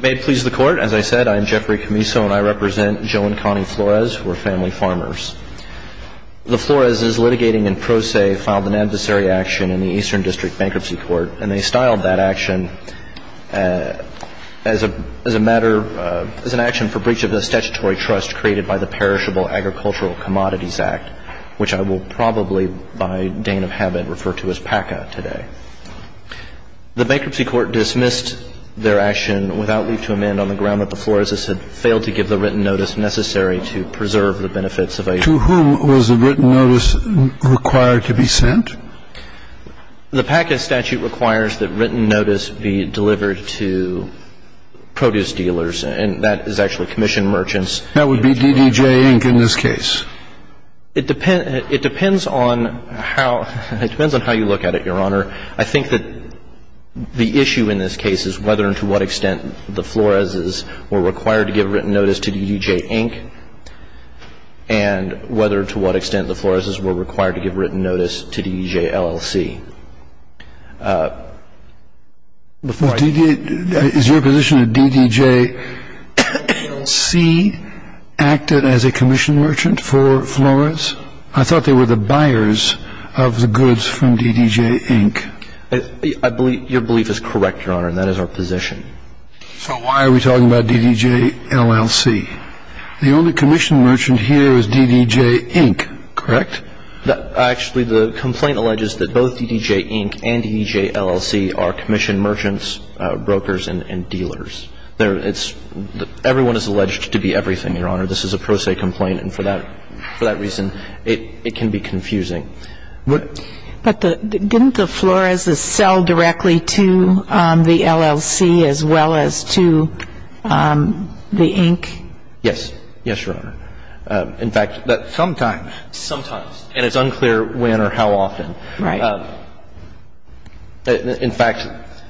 May it please the Court, as I said, I am Jeffrey Camuso, and I represent Joe and Connie Flores, who are family farmers. The Floreses, litigating in pro se, filed an adversary action in the Eastern District Bankruptcy Court, and they styled that action as an action for breach of the statutory trust created by the Perishable Agricultural Commodities Act, which I will probably, by dain of habit, refer to as PACA today. The Bankruptcy Court dismissed their action without leave to amend on the ground that the Floreses had failed to give the written notice necessary to preserve the benefits of a To whom was the written notice required to be sent? The PACA statute requires that written notice be delivered to produce dealers, and that is actually commission merchants. That would be DDJ, Inc., in this case. It depends on how you look at it, Your Honor. I think that the issue in this case is whether and to what extent the Floreses were required to give written notice to DDJ, Inc., and whether to what extent the Floreses were required to give written notice to DDJ, LLC. Is your position that DDJ, LLC acted as a commission merchant for Flores? I thought they were the buyers of the goods from DDJ, Inc. Your belief is correct, Your Honor, and that is our position. So why are we talking about DDJ, LLC? The only commission merchant here is DDJ, Inc., correct? Actually, the complaint alleges that both DDJ, Inc. and DDJ, LLC are commission merchants, brokers, and dealers. Everyone is alleged to be everything, Your Honor. This is a pro se complaint, and for that reason, it can be confusing. But didn't the Floreses sell directly to the LLC as well as to the Inc.? Yes. Yes, Your Honor. In fact, sometimes. Sometimes. And it's unclear when or how often. Right. In fact,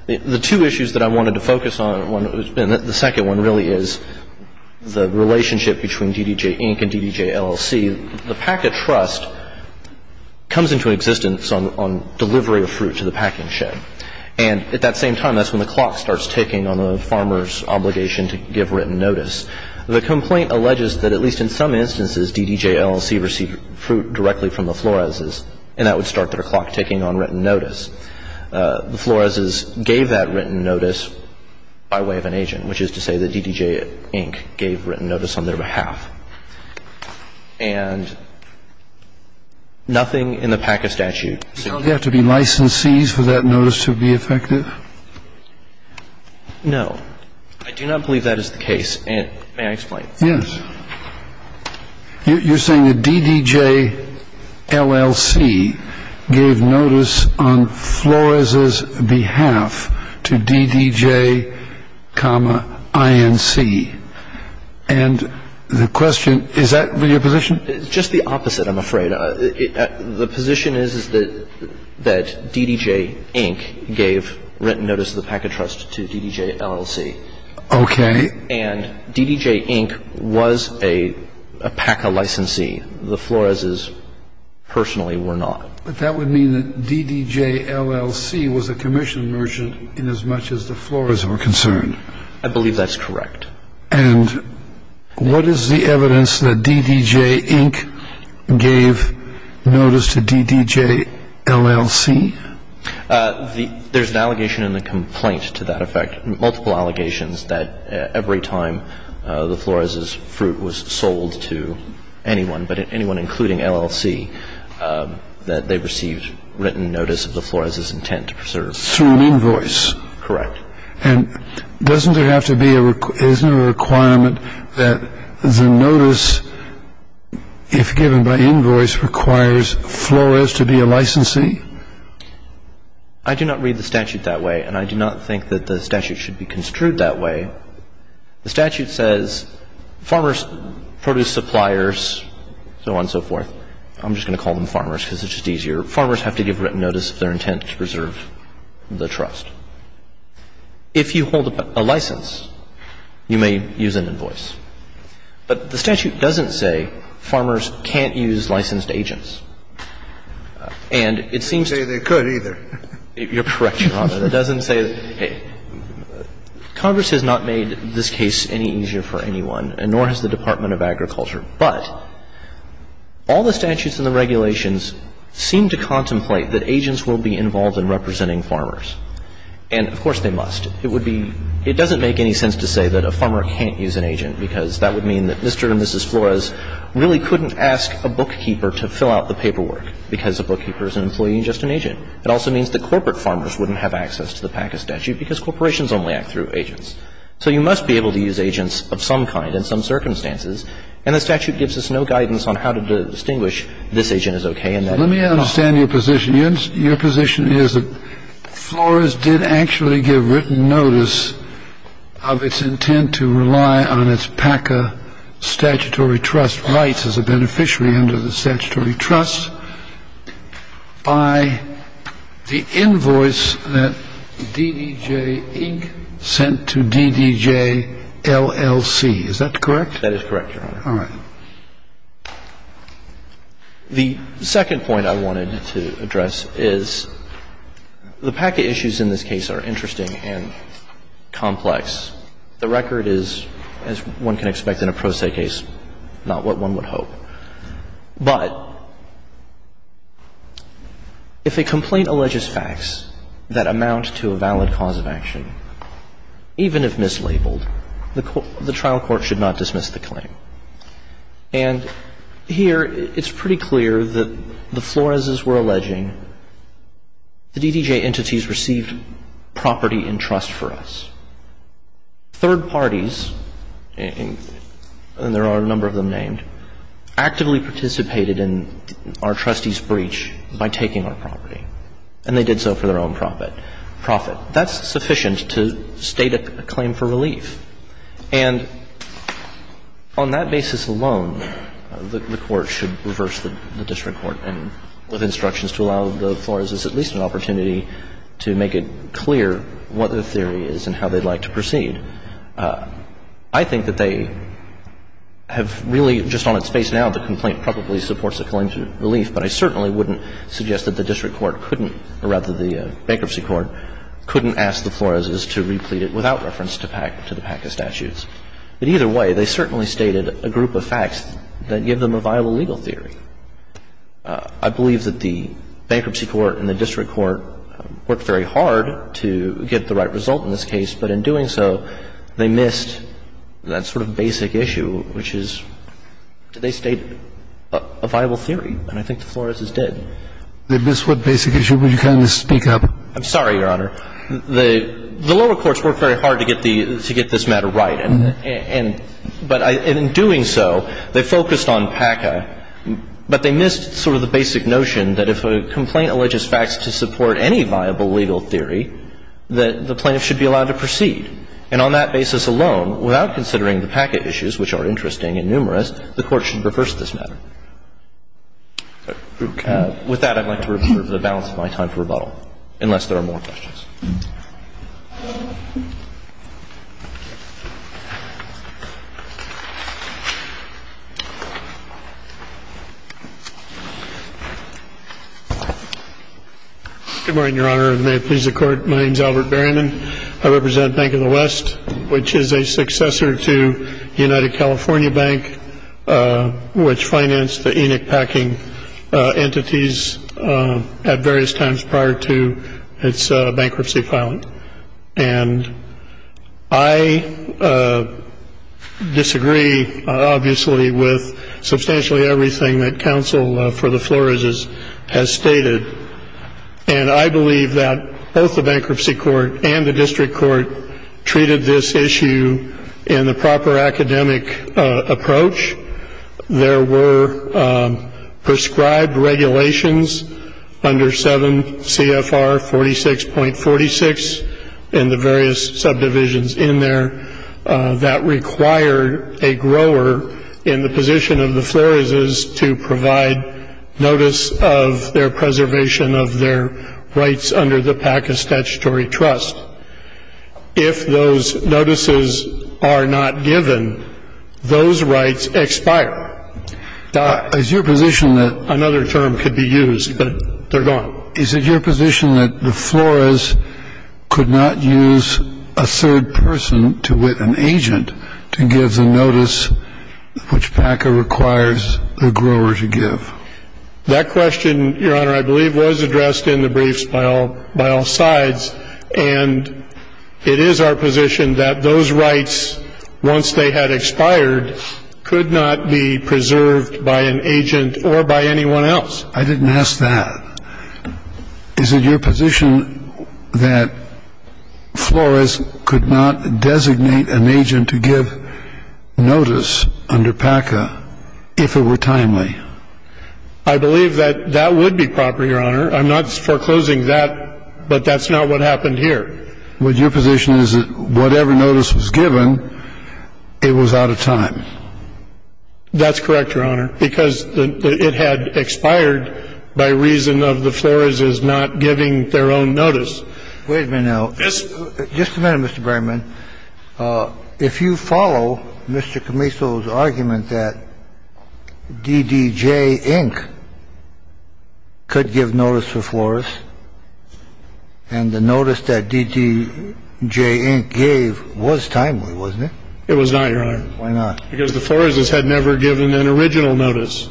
the two issues that I wanted to focus on, and the second one really is the relationship between DDJ, Inc. and DDJ, LLC. The pack of trust comes into existence on delivery of fruit to the packing shed. And at that same time, that's when the clock starts ticking on the farmer's obligation to give written notice. The complaint alleges that at least in some instances, DDJ, LLC received fruit directly from the Floreses, and that would start their clock ticking on written notice. The Floreses gave that written notice by way of an agent, which is to say that DDJ, Inc. gave written notice on their behalf. And nothing in the pack of statute. Do you have to be licensees for that notice to be effective? No. I do not believe that is the case. And may I explain? Yes. You're saying that DDJ, LLC gave notice on Floreses' behalf to DDJ, Inc. And the question, is that your position? Just the opposite, I'm afraid. The position is that DDJ, Inc. gave written notice of the pack of trust to DDJ, LLC. Okay. And DDJ, Inc. was a pack of licensee. The Floreses personally were not. But that would mean that DDJ, LLC was a commission merchant in as much as the Floreses were concerned. I believe that's correct. And what is the evidence that DDJ, Inc. gave notice to DDJ, LLC? There's an allegation in the complaint to that effect, multiple allegations, that every time the Floreses' fruit was sold to anyone, but anyone including LLC, that they received written notice of the Floreses' intent to preserve. Through an invoice. Correct. And doesn't there have to be a requirement that the notice, if given by invoice, requires Flores to be a licensee? I do not read the statute that way. And I do not think that the statute should be construed that way. The statute says farmers, produce suppliers, so on and so forth. I'm just going to call them farmers because it's just easier. But the statute doesn't say that farmers have to give written notice of their intent to preserve the trust. If you hold a license, you may use an invoice. But the statute doesn't say farmers can't use licensed agents. And it seems to me that they could either. You're correct, Your Honor. It doesn't say that Congress has not made this case any easier for anyone, and nor has the Department of Agriculture. But all the statutes and the regulations seem to contemplate that agents will be involved in representing farmers. And, of course, they must. It would be — it doesn't make any sense to say that a farmer can't use an agent because that would mean that Mr. and Mrs. Flores really couldn't ask a bookkeeper to fill out the paperwork because a bookkeeper is an employee and just an agent. It also means that corporate farmers wouldn't have access to the PACA statute because corporations only act through agents. So you must be able to use agents of some kind in some circumstances. And the statute gives us no guidance on how to distinguish this agent is okay and that it's not. Let me understand your position. Your position is that Flores did actually give written notice of its intent to rely on its PACA statutory trust rights as a beneficiary under the statutory trust by the invoice that DDJ Inc. sent to DDJ LLC. Is that correct? That is correct, Your Honor. All right. The second point I wanted to address is the PACA issues in this case are interesting and complex. The record is, as one can expect in a pro se case, not what one would hope. But if a complaint alleges facts that amount to a valid cause of action, even if mislabeled, the trial court should not dismiss the claim. And here it's pretty clear that the Floreses were alleging the DDJ entities received property and trust for us. Third parties, and there are a number of them named, actively participated in our trustee's breach by taking our property. And they did so for their own profit. That's sufficient to state a claim for relief. And on that basis alone, the court should reverse the district court and, with instructions to allow the Floreses at least an opportunity to make it clear what their theory is and how they'd like to proceed. I think that they have really, just on its face now, the complaint probably supports a claim for relief, but I certainly wouldn't suggest that the district court couldn't or rather the bankruptcy court couldn't ask the Floreses to replete it without reference to the PACA statutes. But either way, they certainly stated a group of facts that give them a viable legal theory. I believe that the bankruptcy court and the district court worked very hard to get the right result in this case, but in doing so, they missed that sort of basic issue, which is did they state a viable theory? And I think the Floreses did. They missed what basic issue? Will you kindly speak up? I'm sorry, Your Honor. The lower courts worked very hard to get this matter right, but in doing so, they focused on PACA, but they missed sort of the basic notion that if a complaint alleges facts to support any viable legal theory, that the plaintiff should be allowed to proceed. And on that basis alone, without considering the PACA issues, which are interesting and numerous, the court should reverse this matter. With that, I'd like to reserve the balance of my time for rebuttal, unless there are more questions. Good morning, Your Honor. May it please the Court, my name is Albert Berryman. I represent Bank of the West, which is a successor to United California Bank, which financed the Enoch Packing entities at various times prior to its bankruptcy filing. And I disagree, obviously, with substantially everything that counsel for the Floreses has stated, and I believe that both the bankruptcy court and the district court treated this issue in the proper academic approach. There were prescribed regulations under 7 CFR 46.46, and the various subdivisions in there, that required a grower in the position of the Floreses to provide notice of their preservation of their rights under the PACA statutory trust. If those notices are not given, those rights expire. Is your position that... Another term could be used, but they're gone. Is it your position that the Floreses could not use a third person to with an agent to give the notice which PACA requires the grower to give? That question, Your Honor, I believe was addressed in the briefs by all sides. And it is our position that those rights, once they had expired, could not be preserved by an agent or by anyone else. I didn't ask that. Is it your position that Flores could not designate an agent to give notice under PACA if it were timely? I believe that that would be proper, Your Honor. I'm not foreclosing that, but that's not what happened here. Well, your position is that whatever notice was given, it was out of time. That's correct, Your Honor, because it had expired by reason of the Floreses not giving their own notice. Wait a minute now. Just a minute, Mr. Bergman. Mr. Bergman, if you follow Mr. Camiso's argument that DDJ Inc. could give notice to Flores and the notice that DDJ Inc. gave was timely, wasn't it? It was not, Your Honor. Why not? Because the Floreses had never given an original notice.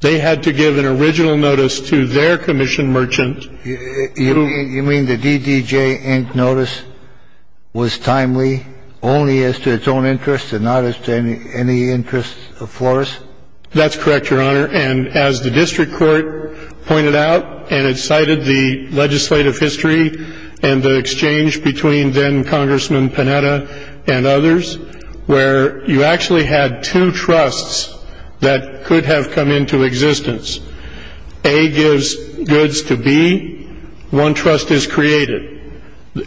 They had to give an original notice to their commission merchant. You mean the DDJ Inc. notice was timely only as to its own interest and not as to any interest of Flores? That's correct, Your Honor. And as the district court pointed out, and it cited the legislative history and the exchange between then Congressman Panetta and others, where you actually had two trusts that could have come into existence. A gives goods to B. One trust is created,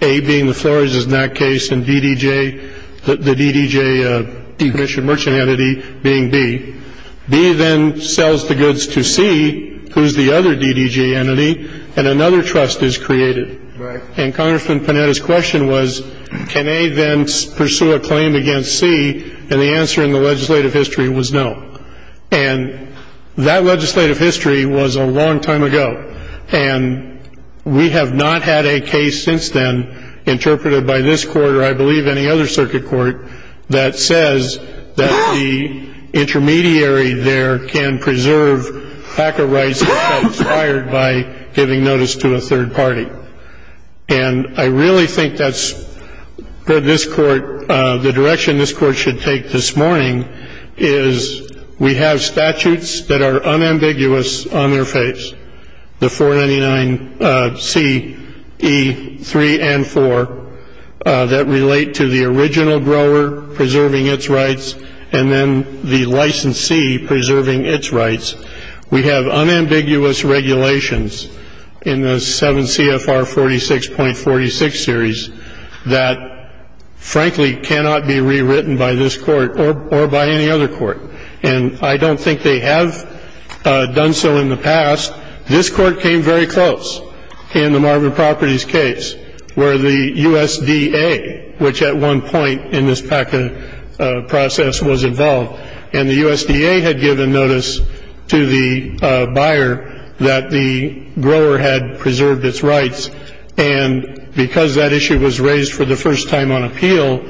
A being the Floreses in that case and DDJ, the DDJ commission merchant entity being B. B then sells the goods to C, who's the other DDJ entity, and another trust is created. Right. And Congressman Panetta's question was can A then pursue a claim against C, and the answer in the legislative history was no. And that legislative history was a long time ago, and we have not had a case since then interpreted by this court or, I believe, any other circuit court, that says that the intermediary there can preserve FACA rights acquired by giving notice to a third party. And I really think that's where this court, the direction this court should take this morning is we have statutes that are unambiguous on their face, the 499 C, E, 3, and 4, that relate to the original grower preserving its rights and then the licensee preserving its rights. We have unambiguous regulations in the 7 CFR 46.46 series that, frankly, cannot be rewritten by this court or by any other court, and I don't think they have done so in the past. This court came very close in the Marvin Properties case where the USDA, which at one point in this FACA process was involved, and the USDA had given notice to the buyer that the grower had preserved its rights, and because that issue was raised for the first time on appeal,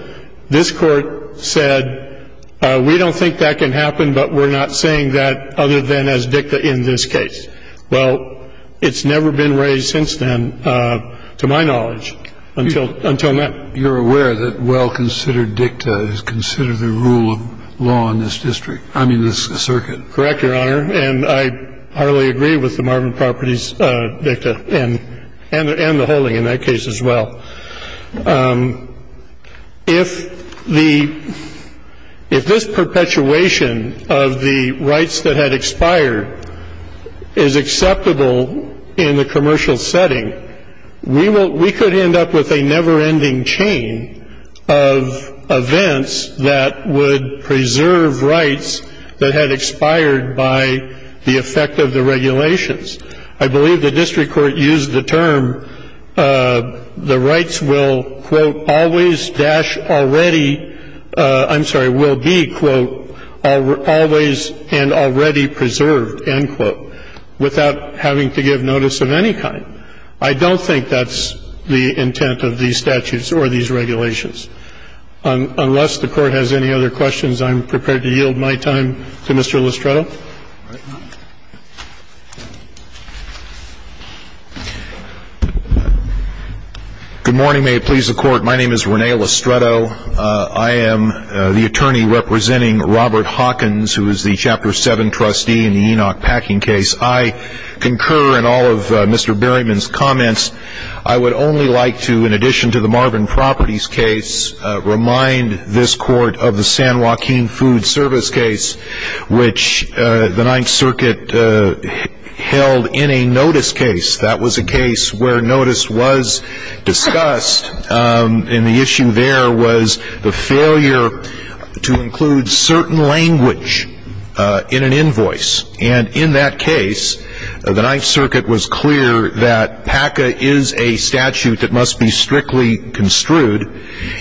this court said, we don't think that can happen, but we're not saying that other than as dicta in this case. Well, it's never been raised since then, to my knowledge, until now. You're aware that well-considered dicta is considered the rule of law in this district, I mean, this circuit. Correct, Your Honor. And I highly agree with the Marvin Properties dicta and the holding in that case as well. If this perpetuation of the rights that had expired is acceptable in the commercial setting, we could end up with a never-ending chain of events that would preserve rights that had expired by the effect of the regulations. I believe the district court used the term the rights will, quote, always dash already, I'm sorry, will be, quote, always and already preserved, end quote, without having to give notice of any kind. I don't think that's the intent of these statutes or these regulations. Unless the court has any other questions, I'm prepared to yield my time to Mr. Lestretto. Good morning. May it please the Court. My name is Rene Lestretto. I am the attorney representing Robert Hawkins, who is the Chapter 7 trustee in the Enoch Packing case. I concur in all of Mr. Berryman's comments. I would only like to, in addition to the Marvin Properties case, remind this Court of the San Joaquin Food Service case, which the Ninth Circuit held in a notice case. That was a case where notice was discussed, and the issue there was the failure to include certain language in an invoice. And in that case, the Ninth Circuit was clear that PACA is a statute that must be strictly construed,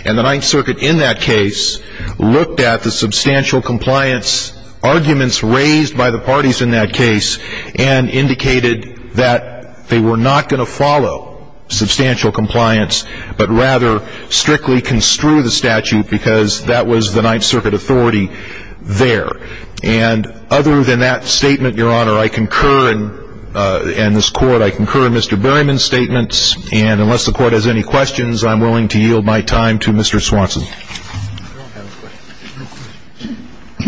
and the Ninth Circuit in that case looked at the substantial compliance arguments raised by the parties in that case and indicated that they were not going to follow substantial compliance, but rather strictly construe the statute because that was the Ninth Circuit authority there. And other than that statement, Your Honor, I concur in this Court. I concur in Mr. Berryman's statements. And unless the Court has any questions, I'm willing to yield my time to Mr. Swanson. Thank you. Mr. Swanson. I don't have a question. I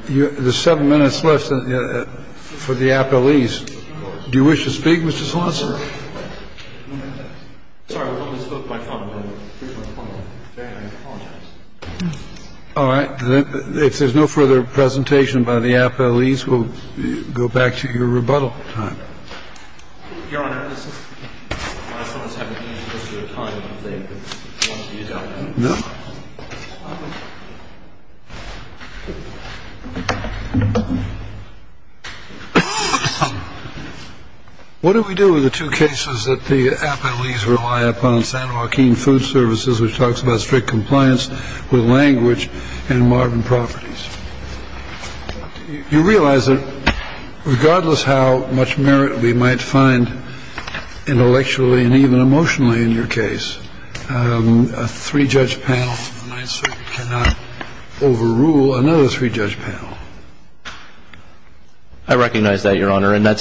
have a question. There's seven minutes left for the appellees. Do you wish to speak, Mr. Swanson? I'm sorry. All right. If there's no further presentation by the appellees, we'll go back to your rebuttal time. Your Honor, this is... My phone is having issues with your time. If they want to use that. No. What do we do with the two cases that the appellees rely upon? San Joaquin Food Services, which talks about strict compliance with language and modern properties. You realize that regardless how much merit we might find intellectually and even emotionally in your case, a three-judge panel, and I certainly cannot overrule another three-judge panel. I recognize that, Your Honor, and that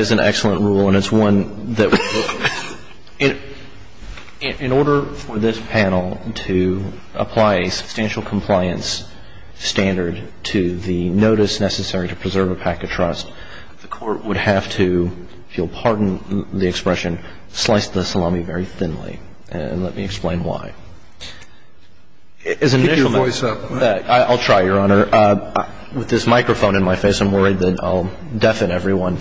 is an excellent rule, and it's one that... In order for this panel to apply a substantial compliance standard to the notice necessary to preserve a pack of trust, the Court would have to, if you'll pardon the expression, slice the salami very thinly. And let me explain why. As an initial... Keep your voice up. I'll try, Your Honor. With this microphone in my face, I'm worried that I'll deafen everyone.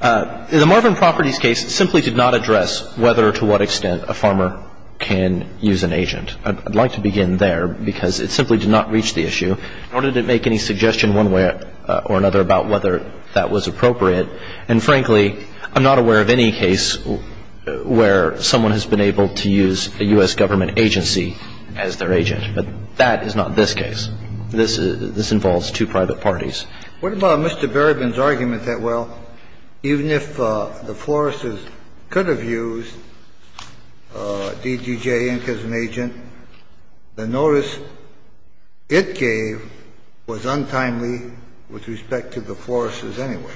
The Marvin Properties case simply did not address whether or to what extent a farmer can use an agent. I'd like to begin there because it simply did not reach the issue. In order to make any suggestion one way or another about whether that was appropriate, and frankly, I'm not aware of any case where someone has been able to use a U.S. Government agency as their agent. But that is not this case. This involves two private parties. What about Mr. Berryman's argument that, well, even if the foresters could have used DDJ Inc. as an agent, the notice it gave was untimely with respect to the foresters anyway?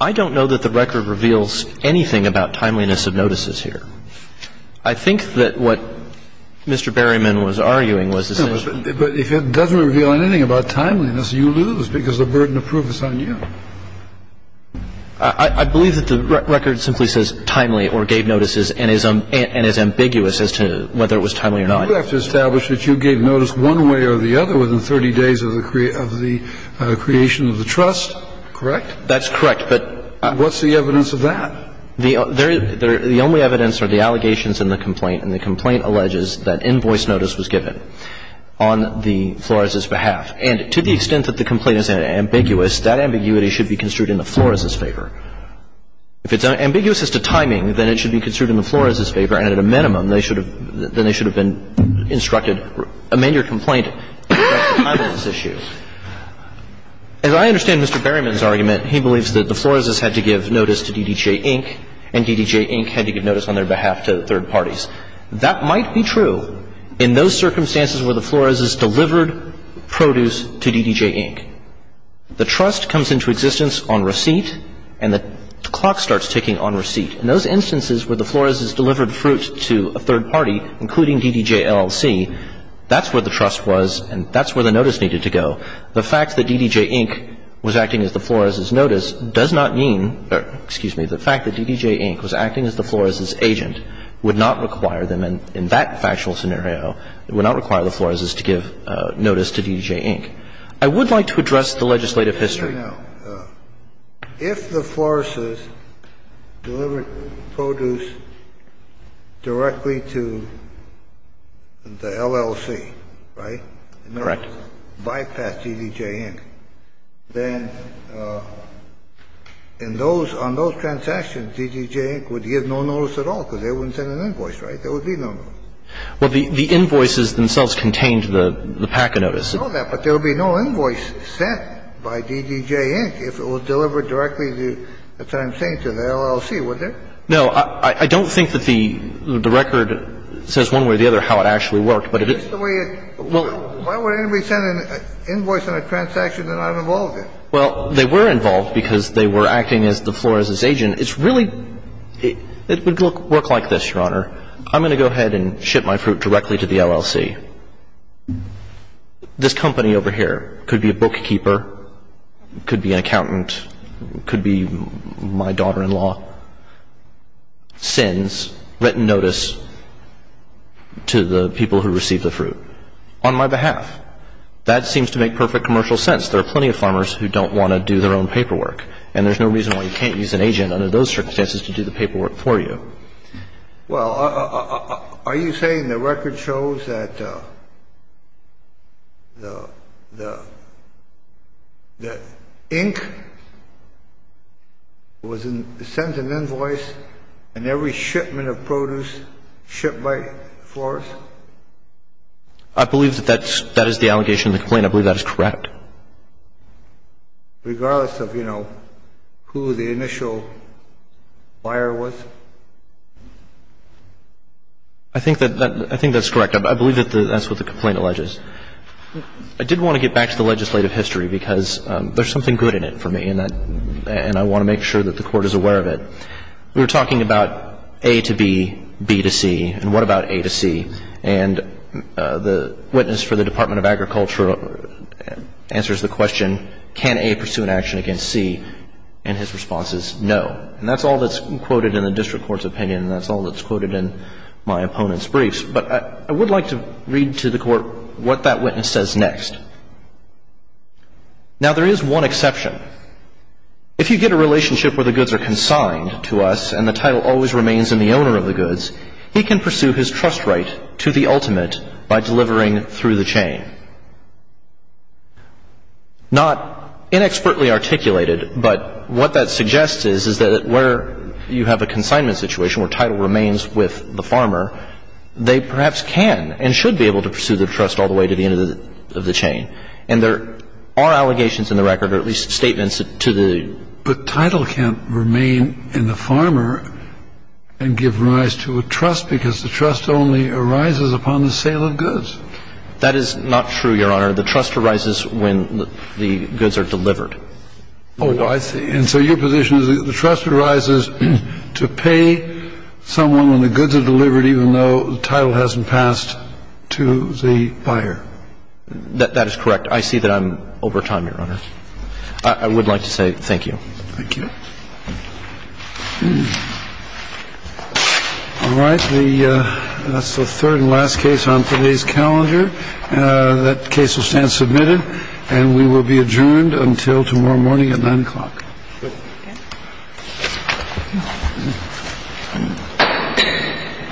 I don't know that the record reveals anything about timeliness of notices here. I think that what Mr. Berryman was arguing was the same. But if it doesn't reveal anything about timeliness, you lose because the burden of proof is on you. I believe that the record simply says timely or gave notices and is ambiguous as to whether it was timely or not. You have to establish that you gave notice one way or the other within 30 days of the creation of the trust, correct? That's correct. But what's the evidence of that? The only evidence are the allegations in the complaint. And the complaint alleges that invoice notice was given on the florist's behalf. And to the extent that the complaint is ambiguous, that ambiguity should be construed in the florist's favor. If it's ambiguous as to timing, then it should be construed in the florist's favor. And at a minimum, they should have been instructed, amend your complaint to address the timeliness issue. As I understand Mr. Berryman's argument, he believes that the florists had to give notice to DDJ Inc. and DDJ Inc. had to give notice on their behalf to third parties. That might be true in those circumstances where the florists delivered produce to DDJ Inc. The trust comes into existence on receipt and the clock starts ticking on receipt. In those instances where the florists delivered fruit to a third party, including DDJ LLC, that's where the trust was and that's where the notice needed to go. The fact that DDJ Inc. was acting as the florist's notice does not mean, or excuse me, the fact that DDJ Inc. was acting as the florist's agent would not require them in that factual scenario, would not require the florists to give notice to DDJ Inc. I would like to address the legislative history. If the florists delivered produce directly to the LLC, right? Correct. If the florists delivered produce directly to the LLC, right? If the florists delivered produce directly to the LLC, right? If the florists bypassed DDJ Inc., then in those — on those transactions, DDJ Inc. would give no notice at all because they wouldn't send an invoice, right? There would be no notice. Well, the invoices themselves contained the PACA notice. I know that, but there would be no invoice sent by DDJ Inc. if it was delivered directly, that's what I'm saying, to the LLC, would there? No. I don't think that the record says one way or the other how it actually worked, but it is — That's the way it — Well — Why would anybody send an invoice on a transaction they're not involved in? Well, they were involved because they were acting as the florist's agent. It's really — it would work like this, Your Honor. I'm going to go ahead and ship my fruit directly to the LLC. This company over here could be a bookkeeper, could be an accountant, could be my daughter-in-law, sends written notice to the people who receive the fruit on my behalf. That seems to make perfect commercial sense. There are plenty of farmers who don't want to do their own paperwork, and there's no reason why you can't use an agent under those circumstances to do the paperwork for you. Well, are you saying the record shows that the — that Inc. was sent an invoice and every shipment of produce shipped by the florist? I believe that that is the allegation in the complaint. I believe that is correct. Regardless of, you know, who the initial buyer was? I think that's correct. I believe that that's what the complaint alleges. I did want to get back to the legislative history because there's something good in it for me, and I want to make sure that the Court is aware of it. We were talking about A to B, B to C, and what about A to C? And the witness for the Department of Agriculture answers the question, can A pursue an action against C, and his response is no. And that's all that's quoted in the district court's opinion, and that's all that's quoted in my opponent's briefs. But I would like to read to the Court what that witness says next. Now, there is one exception. If you get a relationship where the goods are consigned to us and the title always remains in the owner of the goods, he can pursue his trust right to the ultimate by delivering through the chain. Not inexpertly articulated, but what that suggests is, is that where you have a consignment situation where title remains with the farmer, they perhaps can and should be able to pursue their trust all the way to the end of the chain. And there are allegations in the record, or at least statements to the ---- But title can't remain in the farmer and give rise to a trust because the trust only arises upon the sale of goods. That is not true, Your Honor. The trust arises when the goods are delivered. Oh, I see. And so your position is the trust arises to pay someone when the goods are delivered, even though the title hasn't passed to the buyer. That is correct. I see that I'm over time, Your Honor. I would like to say thank you. Thank you. All right. That's the third and last case on today's calendar. That case will stand submitted, and we will be adjourned until tomorrow morning at 9 o'clock.